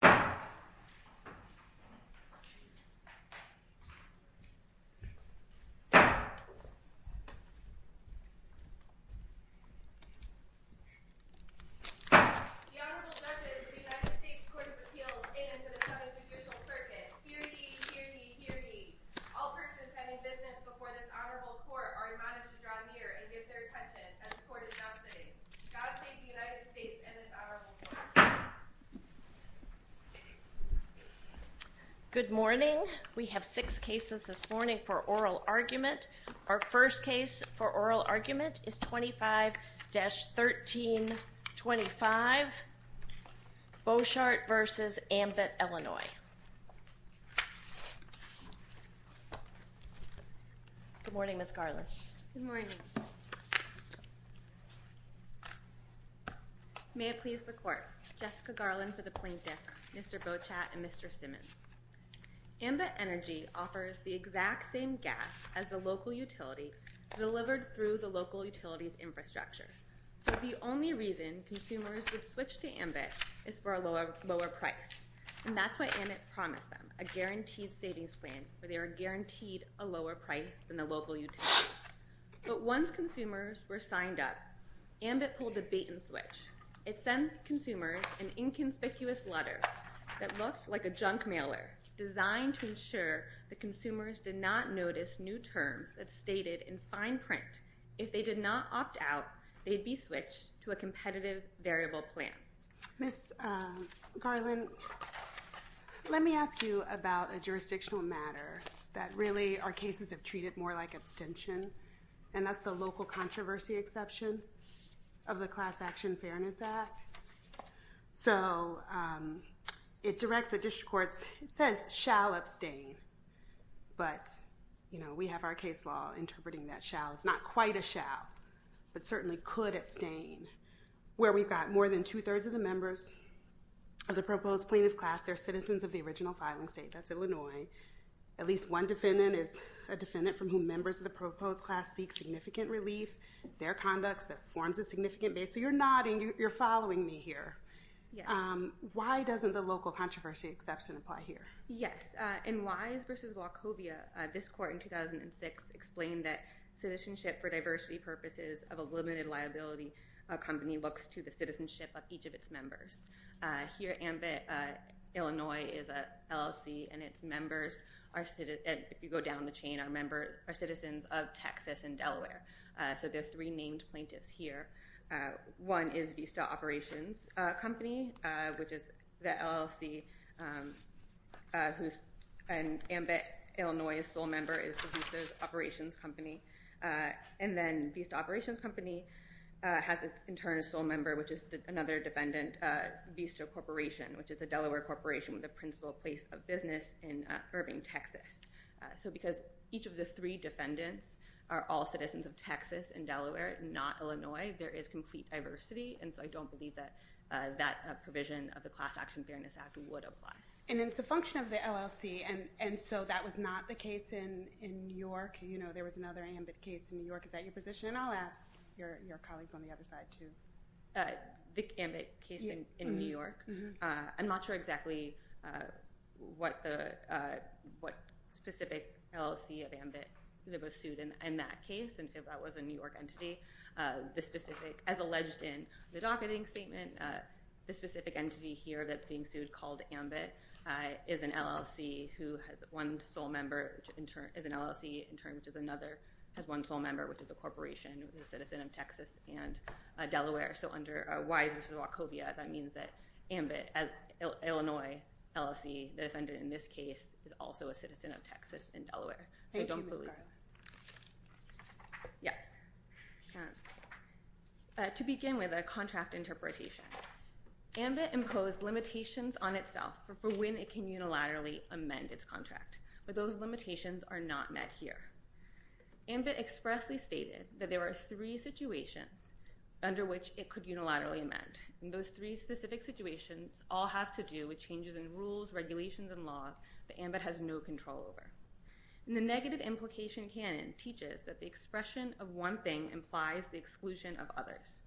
The Honorable Justice of the United States Court of Appeals, and to the County Judicial Circuit. Hear ye, hear ye, hear ye. All persons having business before this honorable court are admonished to draw near and give their attention as the court is now sitting. God save the United States and this honorable court. Good morning. We have six cases this morning for oral argument. Our first case for oral argument is 25-1325, Bochart v. Ambit, Illinois. Good morning, Ms. Garland. Good morning. May it please the court, Jessica Garland for the plaintiffs, Mr. Bochart and Mr. Simmons. Ambit Energy offers the exact same gas as the local utility delivered through the local utility's infrastructure. So the only reason consumers would switch to Ambit is for a lower price, and that's why Ambit promised them a guaranteed savings plan where they are guaranteed a lower price than the local utility. But once consumers were signed up, Ambit pulled a bait and switch. It sent consumers an inconspicuous letter that looks like a junk mailer designed to ensure that consumers did not notice new terms that's stated in fine print. If they did not opt out, they'd be switched to a competitive variable plan. Ms. Garland, let me ask you about a jurisdictional matter that really our cases have treated more like abstention, and that's the local controversy exception of the Class Action Fairness Act. So it directs the district courts. It says shall abstain, but we have our case law interpreting that shall. It's not quite a shall, but certainly could abstain, where we've got more than two-thirds of the members of the proposed plaintiff class, they're citizens of the original filing state. That's Illinois. At least one defendant is a defendant from whom members of the proposed class seek significant relief. It's their conduct that forms a significant base. So you're nodding. You're following me here. Why doesn't the local controversy exception apply here? Yes. In Wise v. Wachovia, this court in 2006 explained that citizenship for diversity purposes of a limited liability company looks to the citizenship of each of its members. Here, Ambit Illinois is an LLC, and its members, if you go down the chain, are citizens of Texas and Delaware. So there are three named plaintiffs here. One is Vista Operations Company, which is the LLC, and Ambit Illinois' sole member is the Vista Operations Company. And then Vista Operations Company has in turn a sole member, which is another defendant, Vista Corporation, which is a Delaware corporation with a principal place of business in Irving, So because each of the three defendants are all citizens of Texas and Delaware, not Illinois, there is complete diversity. And so I don't believe that that provision of the Class Action Fairness Act would apply. And it's a function of the LLC. And so that was not the case in New York. There was another Ambit case in New York. Is that your position? And I'll ask your colleagues on the other side, too. The Ambit case in New York, I'm not sure exactly what specific LLC of Ambit that was sued in that case. And if that was a New York entity. As alleged in the docketing statement, the specific entity here that's being sued, called Ambit, is an LLC in turn, which is another, has one sole member, which is a corporation with a citizen of Texas and Delaware. So under Wise v. Wachovia, that means that Ambit, Illinois LLC, the defendant in this case, is also a citizen of Texas and Delaware. Thank you, Ms. Garland. Yes. To begin with a contract interpretation, Ambit imposed limitations on itself for when it can unilaterally amend its contract. But those limitations are not met here. Ambit expressly stated that there are three situations under which it could unilaterally amend. And those three specific situations all have to do with changes in rules, regulations, and laws that Ambit has no control over. And the negative implication canon teaches that the expression of one thing implies the exclusion of others.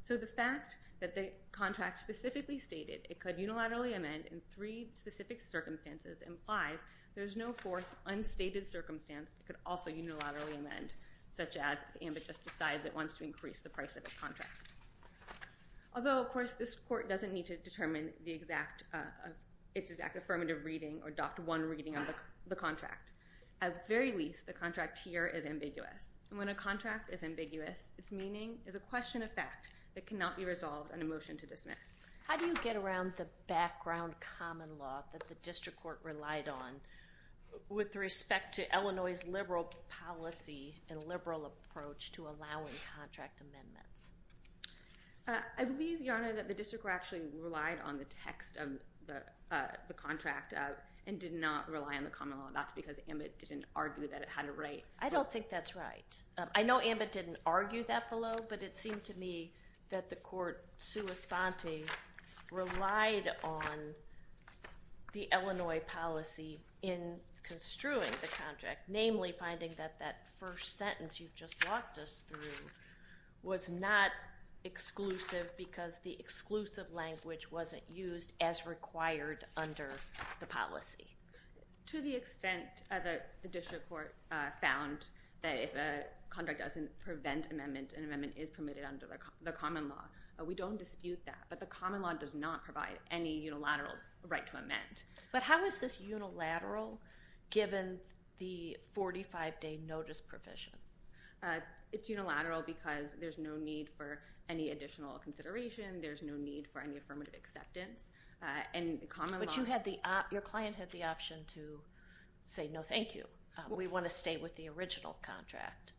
So the fact that the contract specifically stated it could unilaterally amend in three specific circumstances implies there's no fourth unstated circumstance it could also unilaterally amend, such as if Ambit just decides it wants to increase the price of its contract. Although, of course, this court doesn't need to determine the exact, its exact affirmative reading or adopt one reading of the contract. At the very least, the contract here is ambiguous. And when a contract is ambiguous, its meaning is a question of fact that cannot be resolved on a motion to dismiss. How do you get around the background common law that the district court relied on with respect to Illinois' liberal policy and liberal approach to allowing contract amendments? I believe, Your Honor, that the district court actually relied on the text of the contract and did not rely on the common law. That's because Ambit didn't argue that it had a right. I don't think that's right. I know Ambit didn't argue that below. But it seemed to me that the court, sua sponte, relied on the Illinois policy in construing the contract. Namely, finding that that first sentence you've just walked us through was not exclusive because the exclusive language wasn't used as required under the policy. To the extent that the district court found that if a contract doesn't prevent amendment, an amendment is permitted under the common law. We don't dispute that. But the common law does not provide any unilateral right to amend. But how is this unilateral given the 45-day notice provision? It's unilateral because there's no need for any additional consideration. There's no need for any affirmative acceptance. But your client had the option to say, no, thank you. We want to stay with the original contract.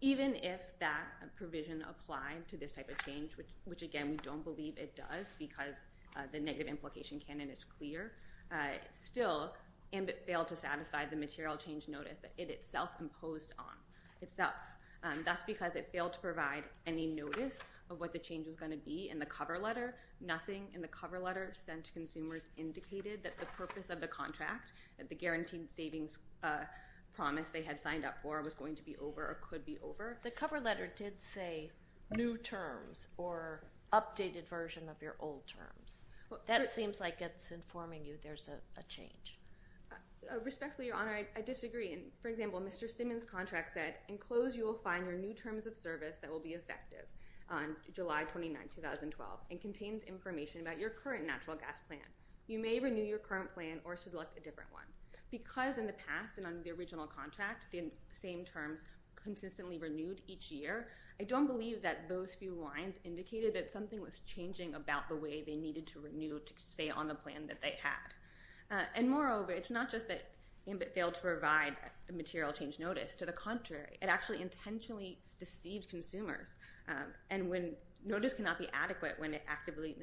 Even if that provision applied to this type of change, which again, we don't believe it does because the negative implication canon is clear. Still, Ambit failed to satisfy the material change notice that it itself imposed on itself. That's because it failed to provide any notice of what the change was going to be in the cover letter. Nothing in the cover letter sent to consumers indicated that the purpose of the contract, that the guaranteed savings promise they had signed up for was going to be over or could be over. The cover letter did say new terms or updated version of your old terms. That seems like it's informing you there's a change. Respectfully, Your Honor, I disagree. For example, Mr. Simmons' contract said, in close you will find your new terms of service that will be effective on July 29, 2012 and contains information about your current natural gas plan. You may renew your current plan or select a different one. Because in the past and under the original contract, the same terms consistently renewed each year, I don't believe that those few lines indicated that something was changing about the way they needed to renew to stay on the plan that they had. And moreover, it's not just that Ambit failed to provide a material change notice. To the contrary, it actually intentionally deceived consumers. And notice cannot be adequate when it actively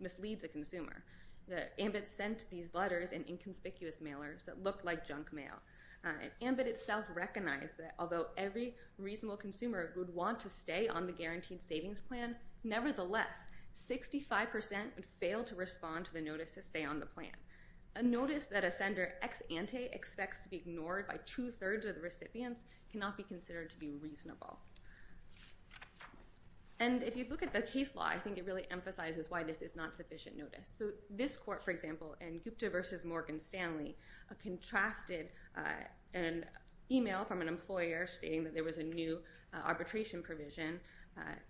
misleads a consumer. Ambit sent these letters in inconspicuous mailers that looked like junk mail. Ambit itself recognized that although every reasonable consumer would want to stay on the guaranteed savings plan, nevertheless, 65% would fail to respond to the notice to stay on the plan. A notice that a sender ex ante expects to be ignored by two-thirds of the recipients cannot be considered to be reasonable. And if you look at the case law, I think it really emphasizes why this is not sufficient notice. So this court, for example, in Gupta v. Morgan Stanley, contrasted an email from an employer stating that there was a new arbitration provision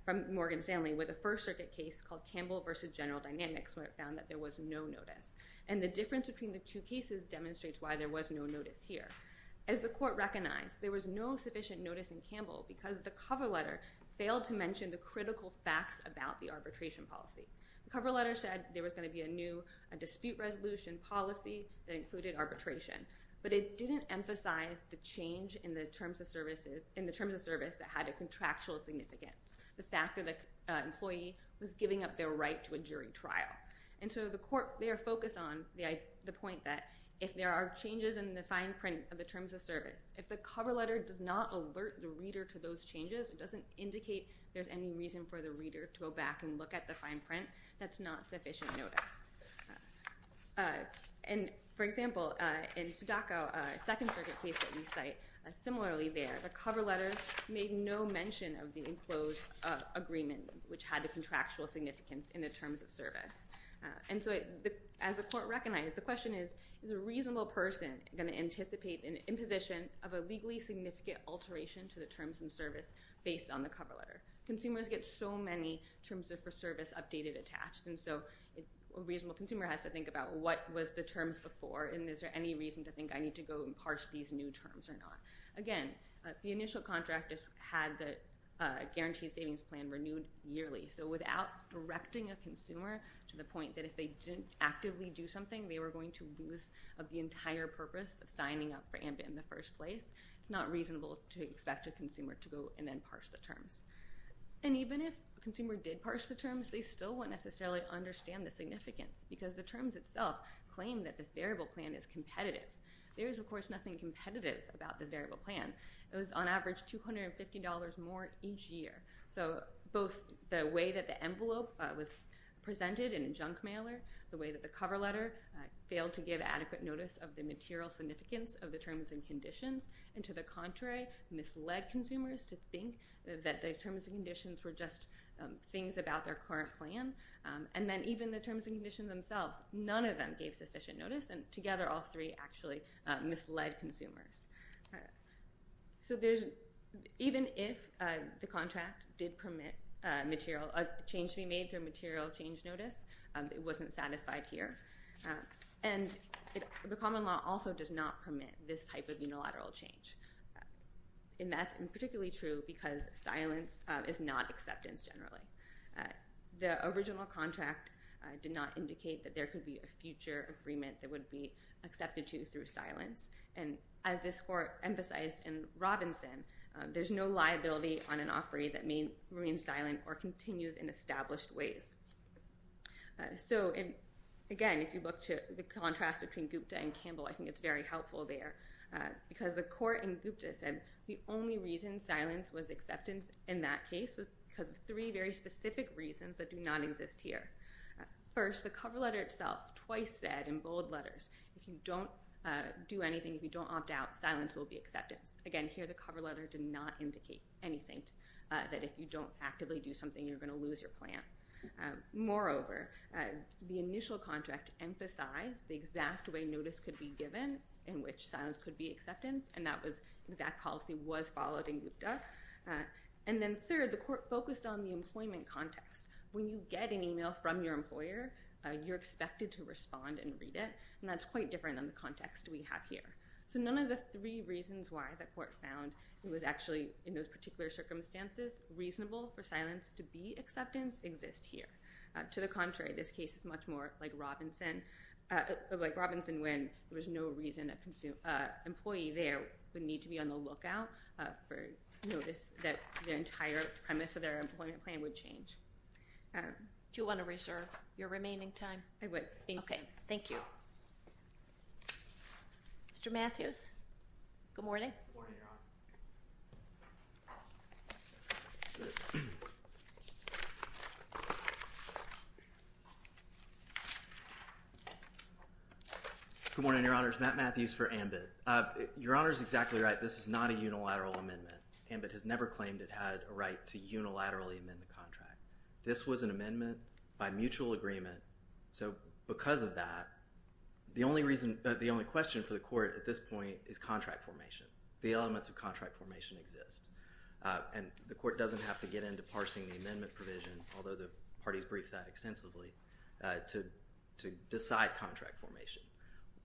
from Morgan Stanley with a First Circuit case called Campbell v. General Dynamics where it found that there was no notice. And the difference between the two cases demonstrates why there was no notice here. As the court recognized, there was no sufficient notice in Campbell because the cover letter failed to mention the critical facts about the arbitration policy. The cover letter said there was going to be a new dispute resolution policy that included arbitration. But it didn't emphasize the change in the terms of service that had a contractual significance, the fact that an employee was giving up their right to a jury trial. And so the court there focused on the point that if there are changes in the fine print of the terms of service, if the cover letter does not alert the reader to those changes, it doesn't indicate there's any reason for the reader to go back and look at the fine print, that's not sufficient notice. And, for example, in Sudaco, a Second Circuit case that we cite, similarly there, the cover letter made no mention of the enclosed agreement which had the contractual significance in the terms of service. And so as the court recognized, the question is, is a reasonable person going to anticipate an imposition of a legally significant alteration to the terms of service based on the cover letter? Consumers get so many terms of service updated, attached, and so a reasonable consumer has to think about what was the terms before and is there any reason to think I need to go and parse these new terms or not? Again, the initial contract just had the guaranteed savings plan renewed yearly. So without directing a consumer to the point that if they didn't actively do something, they were going to lose the entire purpose of signing up for AMBA in the first place, it's not reasonable to expect a consumer to go and then parse the terms. And even if a consumer did parse the terms, they still won't necessarily understand the significance because the terms itself claim that this variable plan is competitive. There is, of course, nothing competitive about this variable plan. It was on average $250 more each year. So both the way that the envelope was presented in a junk mailer, the way that the cover letter failed to give adequate notice of the material significance of the terms and conditions, and to the contrary, misled consumers to think that the terms and conditions were just things about their current plan. And then even the terms and conditions themselves, none of them gave sufficient notice, and together all three actually misled consumers. So even if the contract did permit a change to be made through material change notice, it wasn't satisfied here. And the common law also does not permit this type of unilateral change. And that's particularly true because silence is not acceptance generally. The original contract did not indicate that there could be a future agreement that would be accepted to through silence. And as this Court emphasized in Robinson, there's no liability on an offeree that remains silent or continues in established ways. So, again, if you look to the contrast between Gupta and Campbell, I think it's very helpful there. Because the Court in Gupta said the only reason silence was acceptance in that case was because of three very specific reasons that do not exist here. First, the cover letter itself twice said in bold letters, if you don't do anything, if you don't opt out, silence will be acceptance. Again, here the cover letter did not indicate anything, that if you don't actively do something, you're going to lose your plan. Moreover, the initial contract emphasized the exact way notice could be given in which silence could be acceptance, and that exact policy was followed in Gupta. And then third, the Court focused on the employment context. When you get an email from your employer, you're expected to respond and read it, and that's quite different than the context we have here. So none of the three reasons why the Court found it was actually in those particular circumstances reasonable for silence to be acceptance exist here. To the contrary, this case is much more like Robinson, like Robinson when there was no reason an employee there would need to be on the lookout for notice that the entire premise of their employment plan would change. Do you want to reserve your remaining time? I would. Thank you. Okay. Thank you. Mr. Matthews, good morning. Good morning, Your Honor. Good morning, Your Honors. Matt Matthews for AMBIT. Your Honor is exactly right. This is not a unilateral amendment. AMBIT has never claimed it had a right to unilaterally amend the contract. This was an amendment by mutual agreement. So because of that, the only question for the Court at this point is contract formation. The elements of contract formation exist. And the Court doesn't have to get into parsing the amendment provision, although the parties briefed that extensively, to decide contract formation.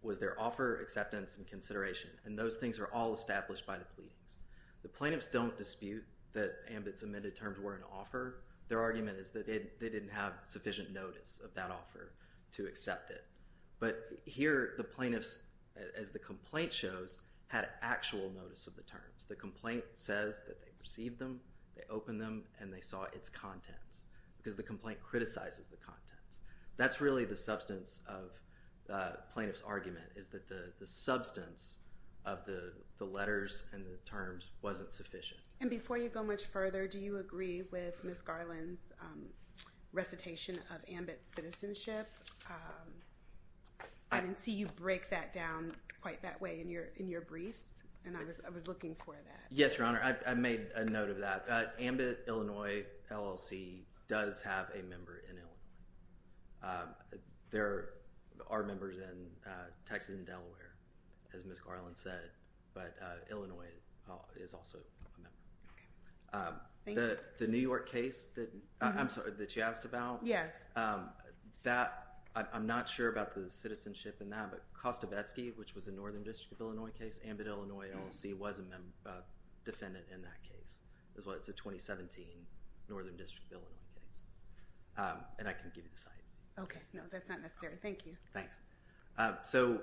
Was there offer, acceptance, and consideration? And those things are all established by the pleadings. The plaintiffs don't dispute that AMBIT's amended terms were an offer. Their argument is that they didn't have sufficient notice of that offer to accept it. But here, the plaintiffs, as the complaint shows, had actual notice of the terms. The complaint says that they received them, they opened them, and they saw its contents. Because the complaint criticizes the contents. That's really the substance of the plaintiff's argument, is that the substance of the letters and the terms wasn't sufficient. And before you go much further, do you agree with Ms. Garland's recitation of AMBIT's citizenship? I didn't see you break that down quite that way in your briefs, and I was looking for that. Yes, Your Honor, I made a note of that. AMBIT Illinois LLC does have a member in Illinois. There are members in Texas and Delaware, as Ms. Garland said. But Illinois is also a member. The New York case that you asked about, I'm not sure about the citizenship in that, but Kostovetsky, which was a Northern District of Illinois case, AMBIT Illinois LLC was a defendant in that case. It's a 2017 Northern District of Illinois case. And I can give you the site. Okay, no, that's not necessary. Thank you. Thanks. So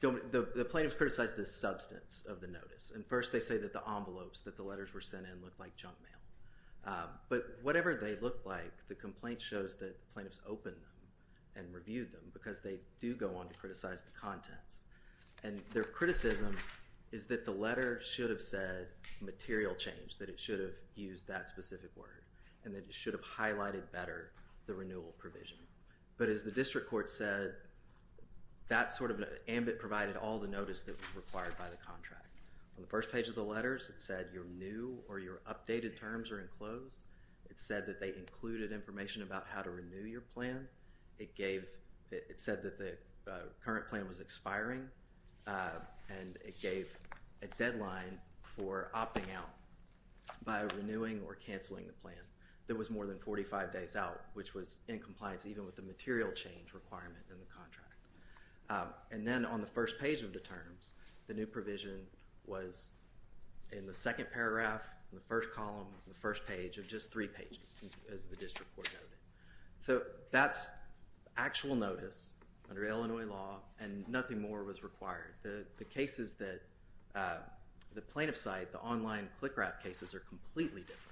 the plaintiffs criticized the substance of the notice. And first they say that the envelopes that the letters were sent in looked like junk mail. But whatever they looked like, the complaint shows that the plaintiffs opened them and reviewed them because they do go on to criticize the contents. And their criticism is that the letter should have said material change, that it should have used that specific word, and that it should have highlighted better the renewal provision. But as the district court said, that sort of AMBIT provided all the notice that was required by the contract. On the first page of the letters, it said your new or your updated terms are enclosed. It said that they included information about how to renew your plan. It gave, it said that the current plan was expiring. And it gave a deadline for opting out by renewing or canceling the plan. There was more than 45 days out, which was in compliance even with the material change requirement in the contract. And then on the first page of the terms, the new provision was in the second paragraph, the first column, the first page of just three pages, as the district court noted. So that's actual notice under Illinois law, and nothing more was required. The cases that the plaintiff cite, the online click wrap cases, are completely different.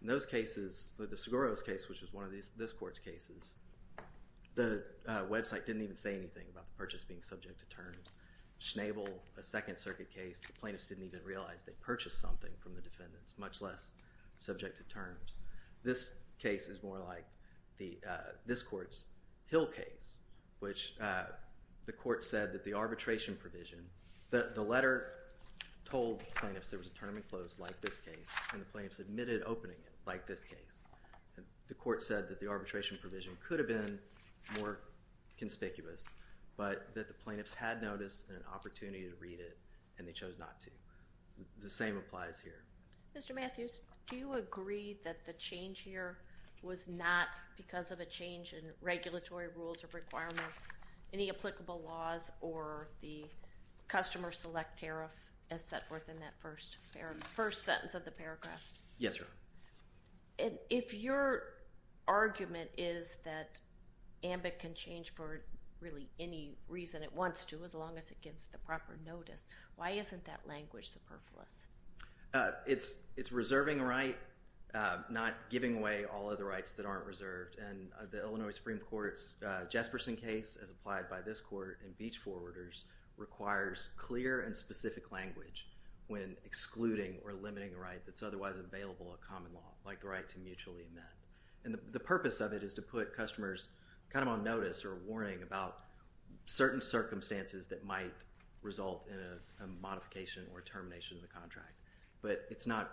In those cases, the Seguro's case, which was one of this court's cases, the website didn't even say anything about the purchase being subject to terms. Schnabel, a Second Circuit case, the plaintiffs didn't even realize they purchased something from the defendants, much less subject to terms. This case is more like this court's Hill case, which the court said that the arbitration provision, the letter told plaintiffs there was a term in close like this case, and the plaintiffs admitted opening it like this case. The court said that the arbitration provision could have been more conspicuous, but that the plaintiffs had notice and an opportunity to read it, and they chose not to. The same applies here. Mr. Matthews, do you agree that the change here was not because of a change in regulatory rules or requirements, any applicable laws or the customer select tariff as set forth in that first sentence of the paragraph? Yes, Your Honor. If your argument is that AMBIC can change for really any reason it wants to as long as it gives the proper notice, why isn't that language superfluous? It's reserving a right, not giving away all of the rights that aren't reserved. And the Illinois Supreme Court's Jesperson case, as applied by this court and Beach forwarders, requires clear and specific language when excluding or limiting a right that's otherwise available at common law, like the right to mutually amend. And the purpose of it is to put customers kind of on notice or warning about certain circumstances that might result in a modification or termination of the contract. But it's not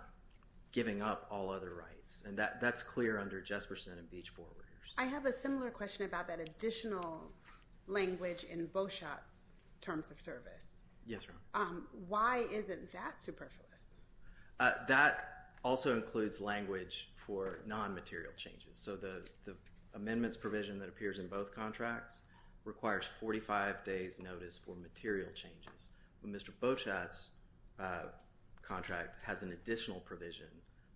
giving up all other rights. And that's clear under Jesperson and Beach forwarders. I have a similar question about that additional language in Beauchat's terms of service. Yes, Your Honor. Why isn't that superfluous? That also includes language for non-material changes. So the amendments provision that appears in both contracts requires 45 days notice for material changes. But Mr. Beauchat's contract has an additional provision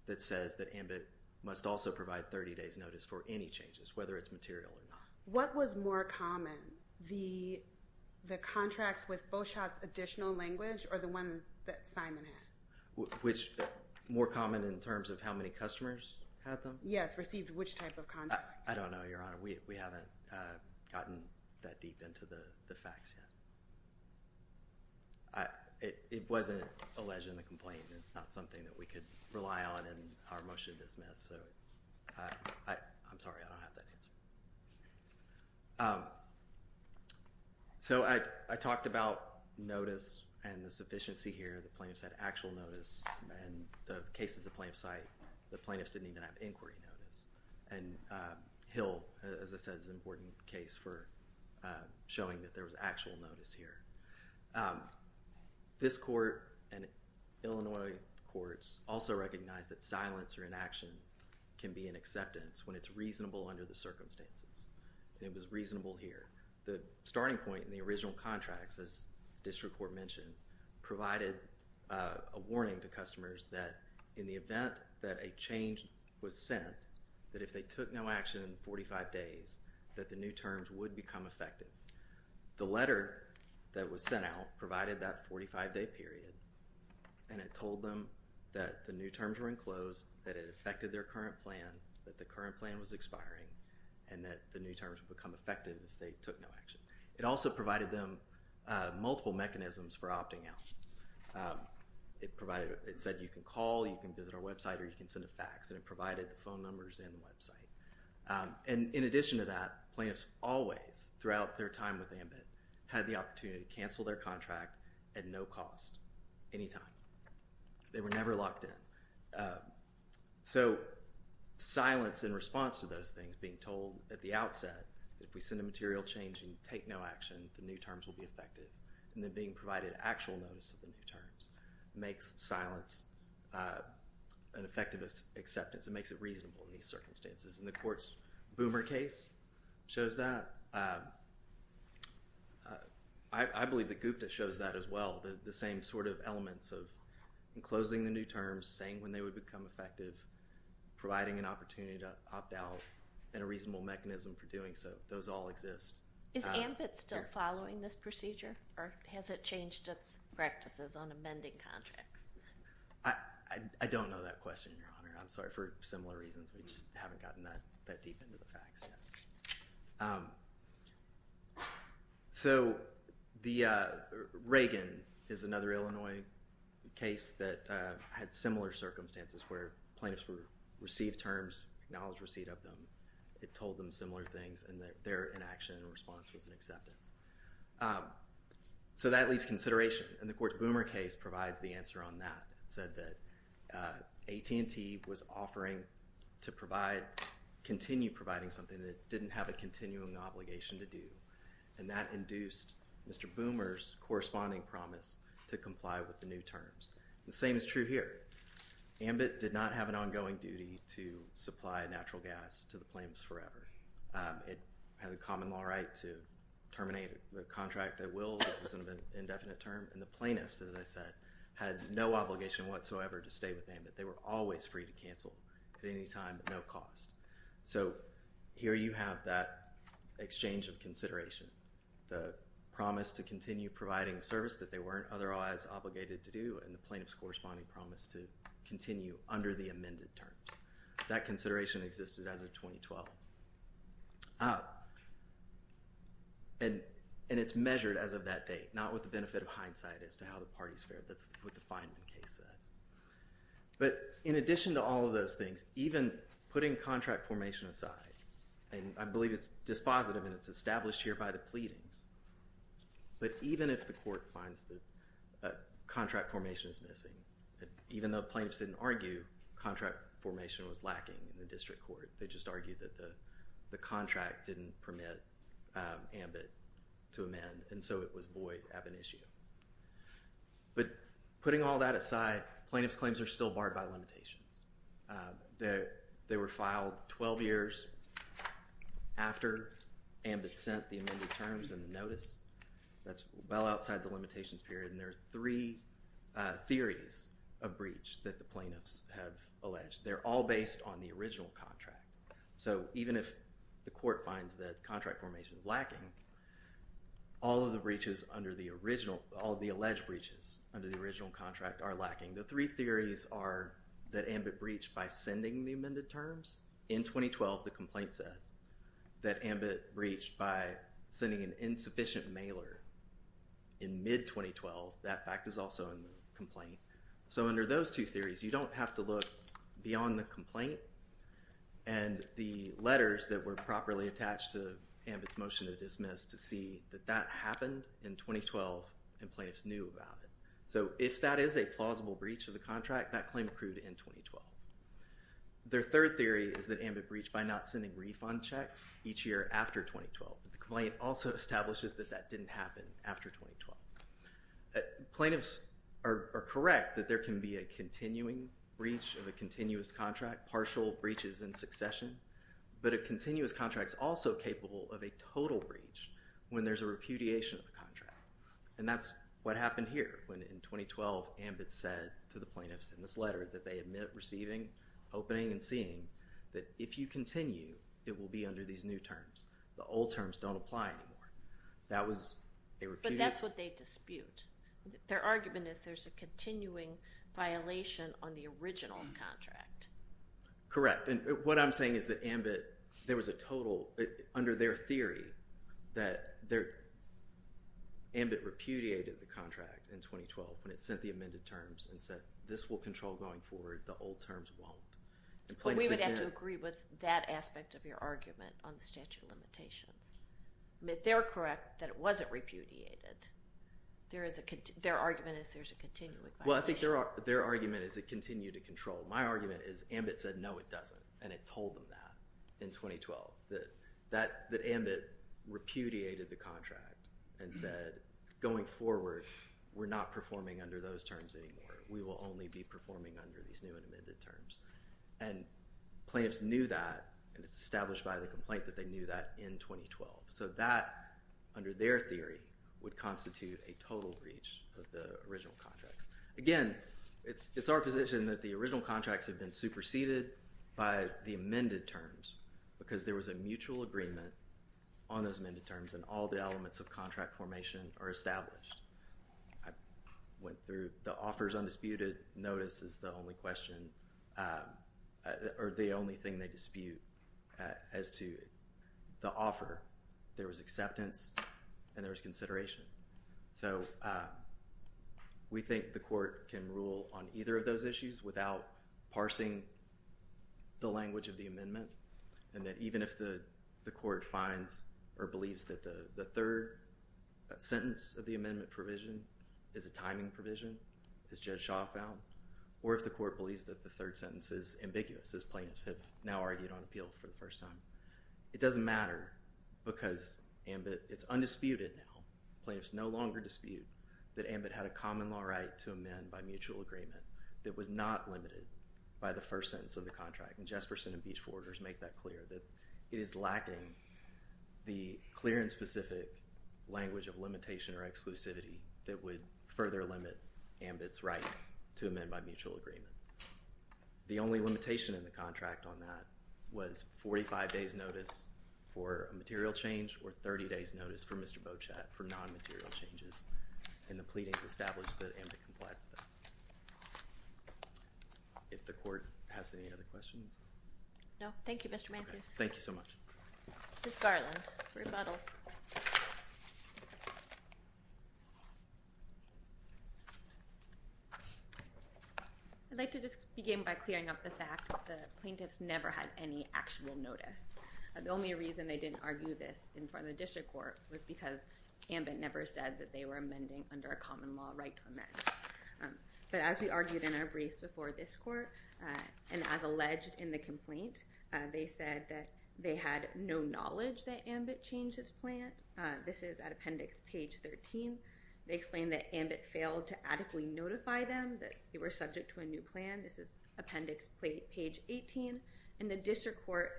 that says that AMBIT must also provide 30 days notice for any changes, whether it's material or not. What was more common, the contracts with Beauchat's additional language or the ones that Simon had? Which more common in terms of how many customers had them? Yes, received which type of contract? I don't know, Your Honor. We haven't gotten that deep into the facts yet. It wasn't alleged in the complaint. It's not something that we could rely on in our motion to dismiss. I'm sorry. I don't have that answer. So I talked about notice and the sufficiency here. The plaintiffs had actual notice. In the cases the plaintiffs cite, the plaintiffs didn't even have inquiry notice. And Hill, as I said, is an important case for showing that there was actual notice here. This court and Illinois courts also recognize that silence or inaction can be an acceptance when it's reasonable under the circumstances. And it was reasonable here. The starting point in the original contracts, as the district court mentioned, provided a warning to customers that in the event that a change was sent, that if they took no action in 45 days, that the new terms would become effective. The letter that was sent out provided that 45-day period, and it told them that the new terms were enclosed, that it affected their current plan, that the current plan was expiring, and that the new terms would become effective if they took no action. It also provided them multiple mechanisms for opting out. It said you can call, you can visit our website, or you can send a fax, and it provided the phone numbers and the website. And in addition to that, plaintiffs always, throughout their time with AMBIT, had the opportunity to cancel their contract at no cost, anytime. They were never locked in. So silence in response to those things, being told at the outset, if we send a material change and you take no action, the new terms will be effective. And then being provided actual notice of the new terms makes silence an effective acceptance. It makes it reasonable in these circumstances. And the court's Boomer case shows that. I believe that Gupta shows that as well, the same sort of elements of enclosing the new terms, saying when they would become effective, providing an opportunity to opt out, and a reasonable mechanism for doing so. Those all exist. Is AMBIT still following this procedure, or has it changed its practices on amending contracts? I don't know that question, Your Honor. I'm sorry for similar reasons. We just haven't gotten that deep into the facts yet. So the Reagan is another Illinois case that had similar circumstances, where plaintiffs received terms, acknowledged receipt of them, it told them similar things, and their inaction and response was an acceptance. So that leaves consideration, and the court's Boomer case provides the answer on that. It said that AT&T was offering to provide, continue providing something that it didn't have a continuing obligation to do, and that induced Mr. Boomer's corresponding promise to comply with the new terms. The same is true here. AMBIT did not have an ongoing duty to supply natural gas to the plaintiffs forever. It had a common law right to terminate a contract at will, it was an indefinite term, and the plaintiffs, as I said, had no obligation whatsoever to stay with AMBIT. They were always free to cancel at any time at no cost. So here you have that exchange of consideration. The promise to continue providing service that they weren't otherwise obligated to do, and the plaintiff's corresponding promise to continue under the amended terms. That consideration existed as of 2012. And it's measured as of that date, not with the benefit of hindsight as to how the parties fared. That's what the Feynman case says. But in addition to all of those things, even putting contract formation aside, and I believe it's dispositive and it's established here by the pleadings, but even if the court finds that contract formation is missing, even though plaintiffs didn't argue contract formation was lacking in the district court, they just argued that the contract didn't permit AMBIT to amend, and so it was void of an issue. But putting all that aside, plaintiffs' claims are still barred by limitations. They were filed 12 years after AMBIT sent the amended terms and the notice. That's well outside the limitations period, and there are three theories of breach that the plaintiffs have alleged. They're all based on the original contract. So even if the court finds that contract formation is lacking, all of the alleged breaches under the original contract are lacking. The three theories are that AMBIT breached by sending the amended terms. In 2012, the complaint says that AMBIT breached by sending an insufficient mailer. In mid-2012, that fact is also in the complaint. So under those two theories, you don't have to look beyond the complaint and the letters that were properly attached to AMBIT's motion to dismiss to see that that happened in 2012 and plaintiffs knew about it. So if that is a plausible breach of the contract, that claim accrued in 2012. Their third theory is that AMBIT breached by not sending refund checks each year after 2012. The complaint also establishes that that didn't happen after 2012. Plaintiffs are correct that there can be a continuing breach of a continuous contract, partial breaches in succession, but a continuous contract is also capable of a total breach when there's a repudiation of the contract, and that's what happened here when, in 2012, AMBIT said to the plaintiffs in this letter that they admit receiving, opening, and seeing that if you continue, it will be under these new terms. The old terms don't apply anymore. But that's what they dispute. Their argument is there's a continuing violation on the original contract. Correct, and what I'm saying is that AMBIT, there was a total, under their theory, that AMBIT repudiated the contract in 2012 when it sent the amended terms and said this will control going forward, the old terms won't. We would have to agree with that aspect of your argument on the statute of limitations. If they're correct that it wasn't repudiated, their argument is there's a continuing violation. Well, I think their argument is it continued to control. My argument is AMBIT said no, it doesn't, and it told them that in 2012, that AMBIT repudiated the contract and said going forward, we're not performing under those terms anymore. We will only be performing under these new and amended terms. And plaintiffs knew that, and it's established by the complaint that they knew that in 2012. So that, under their theory, would constitute a total breach of the original contracts. Again, it's our position that the original contracts have been superseded by the amended terms because there was a mutual agreement on those amended terms and all the elements of contract formation are established. I went through the offers undisputed. Notice is the only question or the only thing they dispute as to the offer. There was acceptance and there was consideration. So we think the court can rule on either of those issues without parsing the language of the amendment and that even if the court finds or believes that the third sentence of the amendment provision is a timing provision, as Judge Shaw found, or if the court believes that the third sentence is ambiguous, as plaintiffs have now argued on appeal for the first time. It doesn't matter because AMBIT, it's undisputed now. Plaintiffs no longer dispute that AMBIT had a common law right to amend by mutual agreement that was not limited by the first sentence of the contract. And Jesperson and Beach forwarders make that clear, that it is lacking the clear and specific language of limitation or exclusivity that would further limit AMBIT's right to amend by mutual agreement. The only limitation in the contract on that was 45 days notice for a material change or 30 days notice for Mr. Beauchat for non-material changes and the pleadings established that AMBIT complied with that. If the court has any other questions? No. Thank you, Mr. Matthews. Thank you so much. Ms. Garland, rebuttal. I'd like to just begin by clearing up the fact that the plaintiffs never had any actual notice. The only reason they didn't argue this in front of the district court was because AMBIT never said that they were amending under a common law right to amend. But as we argued in our briefs before this court and as alleged in the complaint, they said that they had no knowledge that AMBIT changed its plan. This is at appendix page 13. They explained that AMBIT failed to adequately notify them that they were subject to a new plan. This is appendix page 18. And the district court,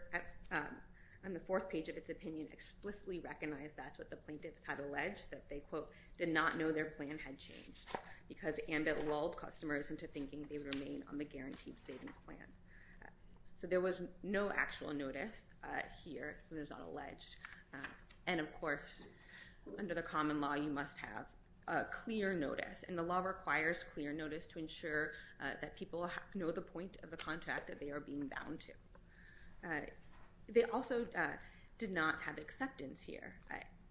on the fourth page of its opinion, explicitly recognized that's what the plaintiffs had alleged, that they, quote, did not know their plan had changed because AMBIT lulled customers into thinking they would remain on the guaranteed savings plan. So there was no actual notice here. It was not alleged. And, of course, under the common law, you must have clear notice. And the law requires clear notice to ensure that people know the point of the contract that they are being bound to. They also did not have acceptance here.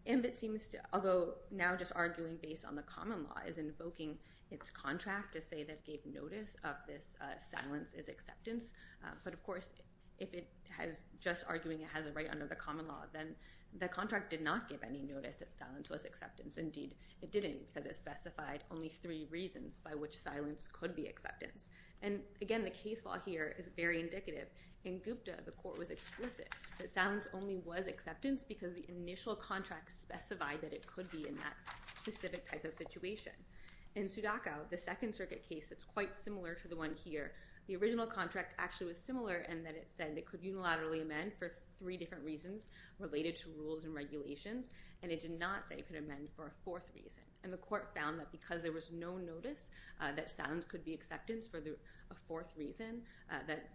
AMBIT seems to, although now just arguing based on the common law, is invoking its contract to say that it gave notice of this silence as acceptance. But, of course, if it has just arguing it has a right under the common law, then the contract did not give any notice that silence was acceptance. Indeed, it didn't because it specified only three reasons by which silence could be acceptance. And, again, the case law here is very indicative. In Gupta, the court was explicit that silence only was acceptance because the initial contract specified that it could be in that specific type of situation. In Sudakow, the Second Circuit case that's quite similar to the one here, the original contract actually was similar in that it said it could unilaterally amend for three different reasons related to rules and regulations, and it did not say it could amend for a fourth reason. And the court found that because there was no notice that silence could be acceptance for a fourth reason, that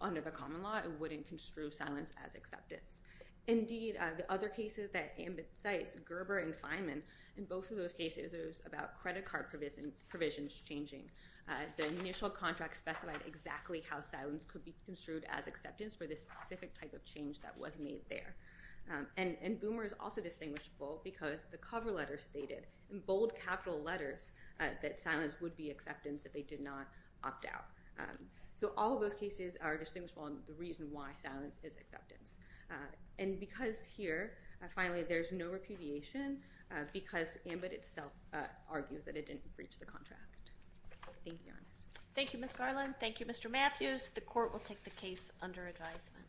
under the common law it wouldn't construe silence as acceptance. Indeed, the other cases that Ambit cites, Gerber and Feynman, in both of those cases it was about credit card provisions changing. The initial contract specified exactly how silence could be construed as acceptance for this specific type of change that was made there. And Boomer is also distinguishable because the cover letter stated in bold capital letters that silence would be acceptance if they did not opt out. So all of those cases are distinguishable, and the reason why silence is acceptance. And because here, finally, there's no repudiation because Ambit itself argues that it didn't breach the contract. Thank you, Your Honor. Thank you, Ms. Garland. Thank you, Mr. Matthews. The court will take the case under advisement.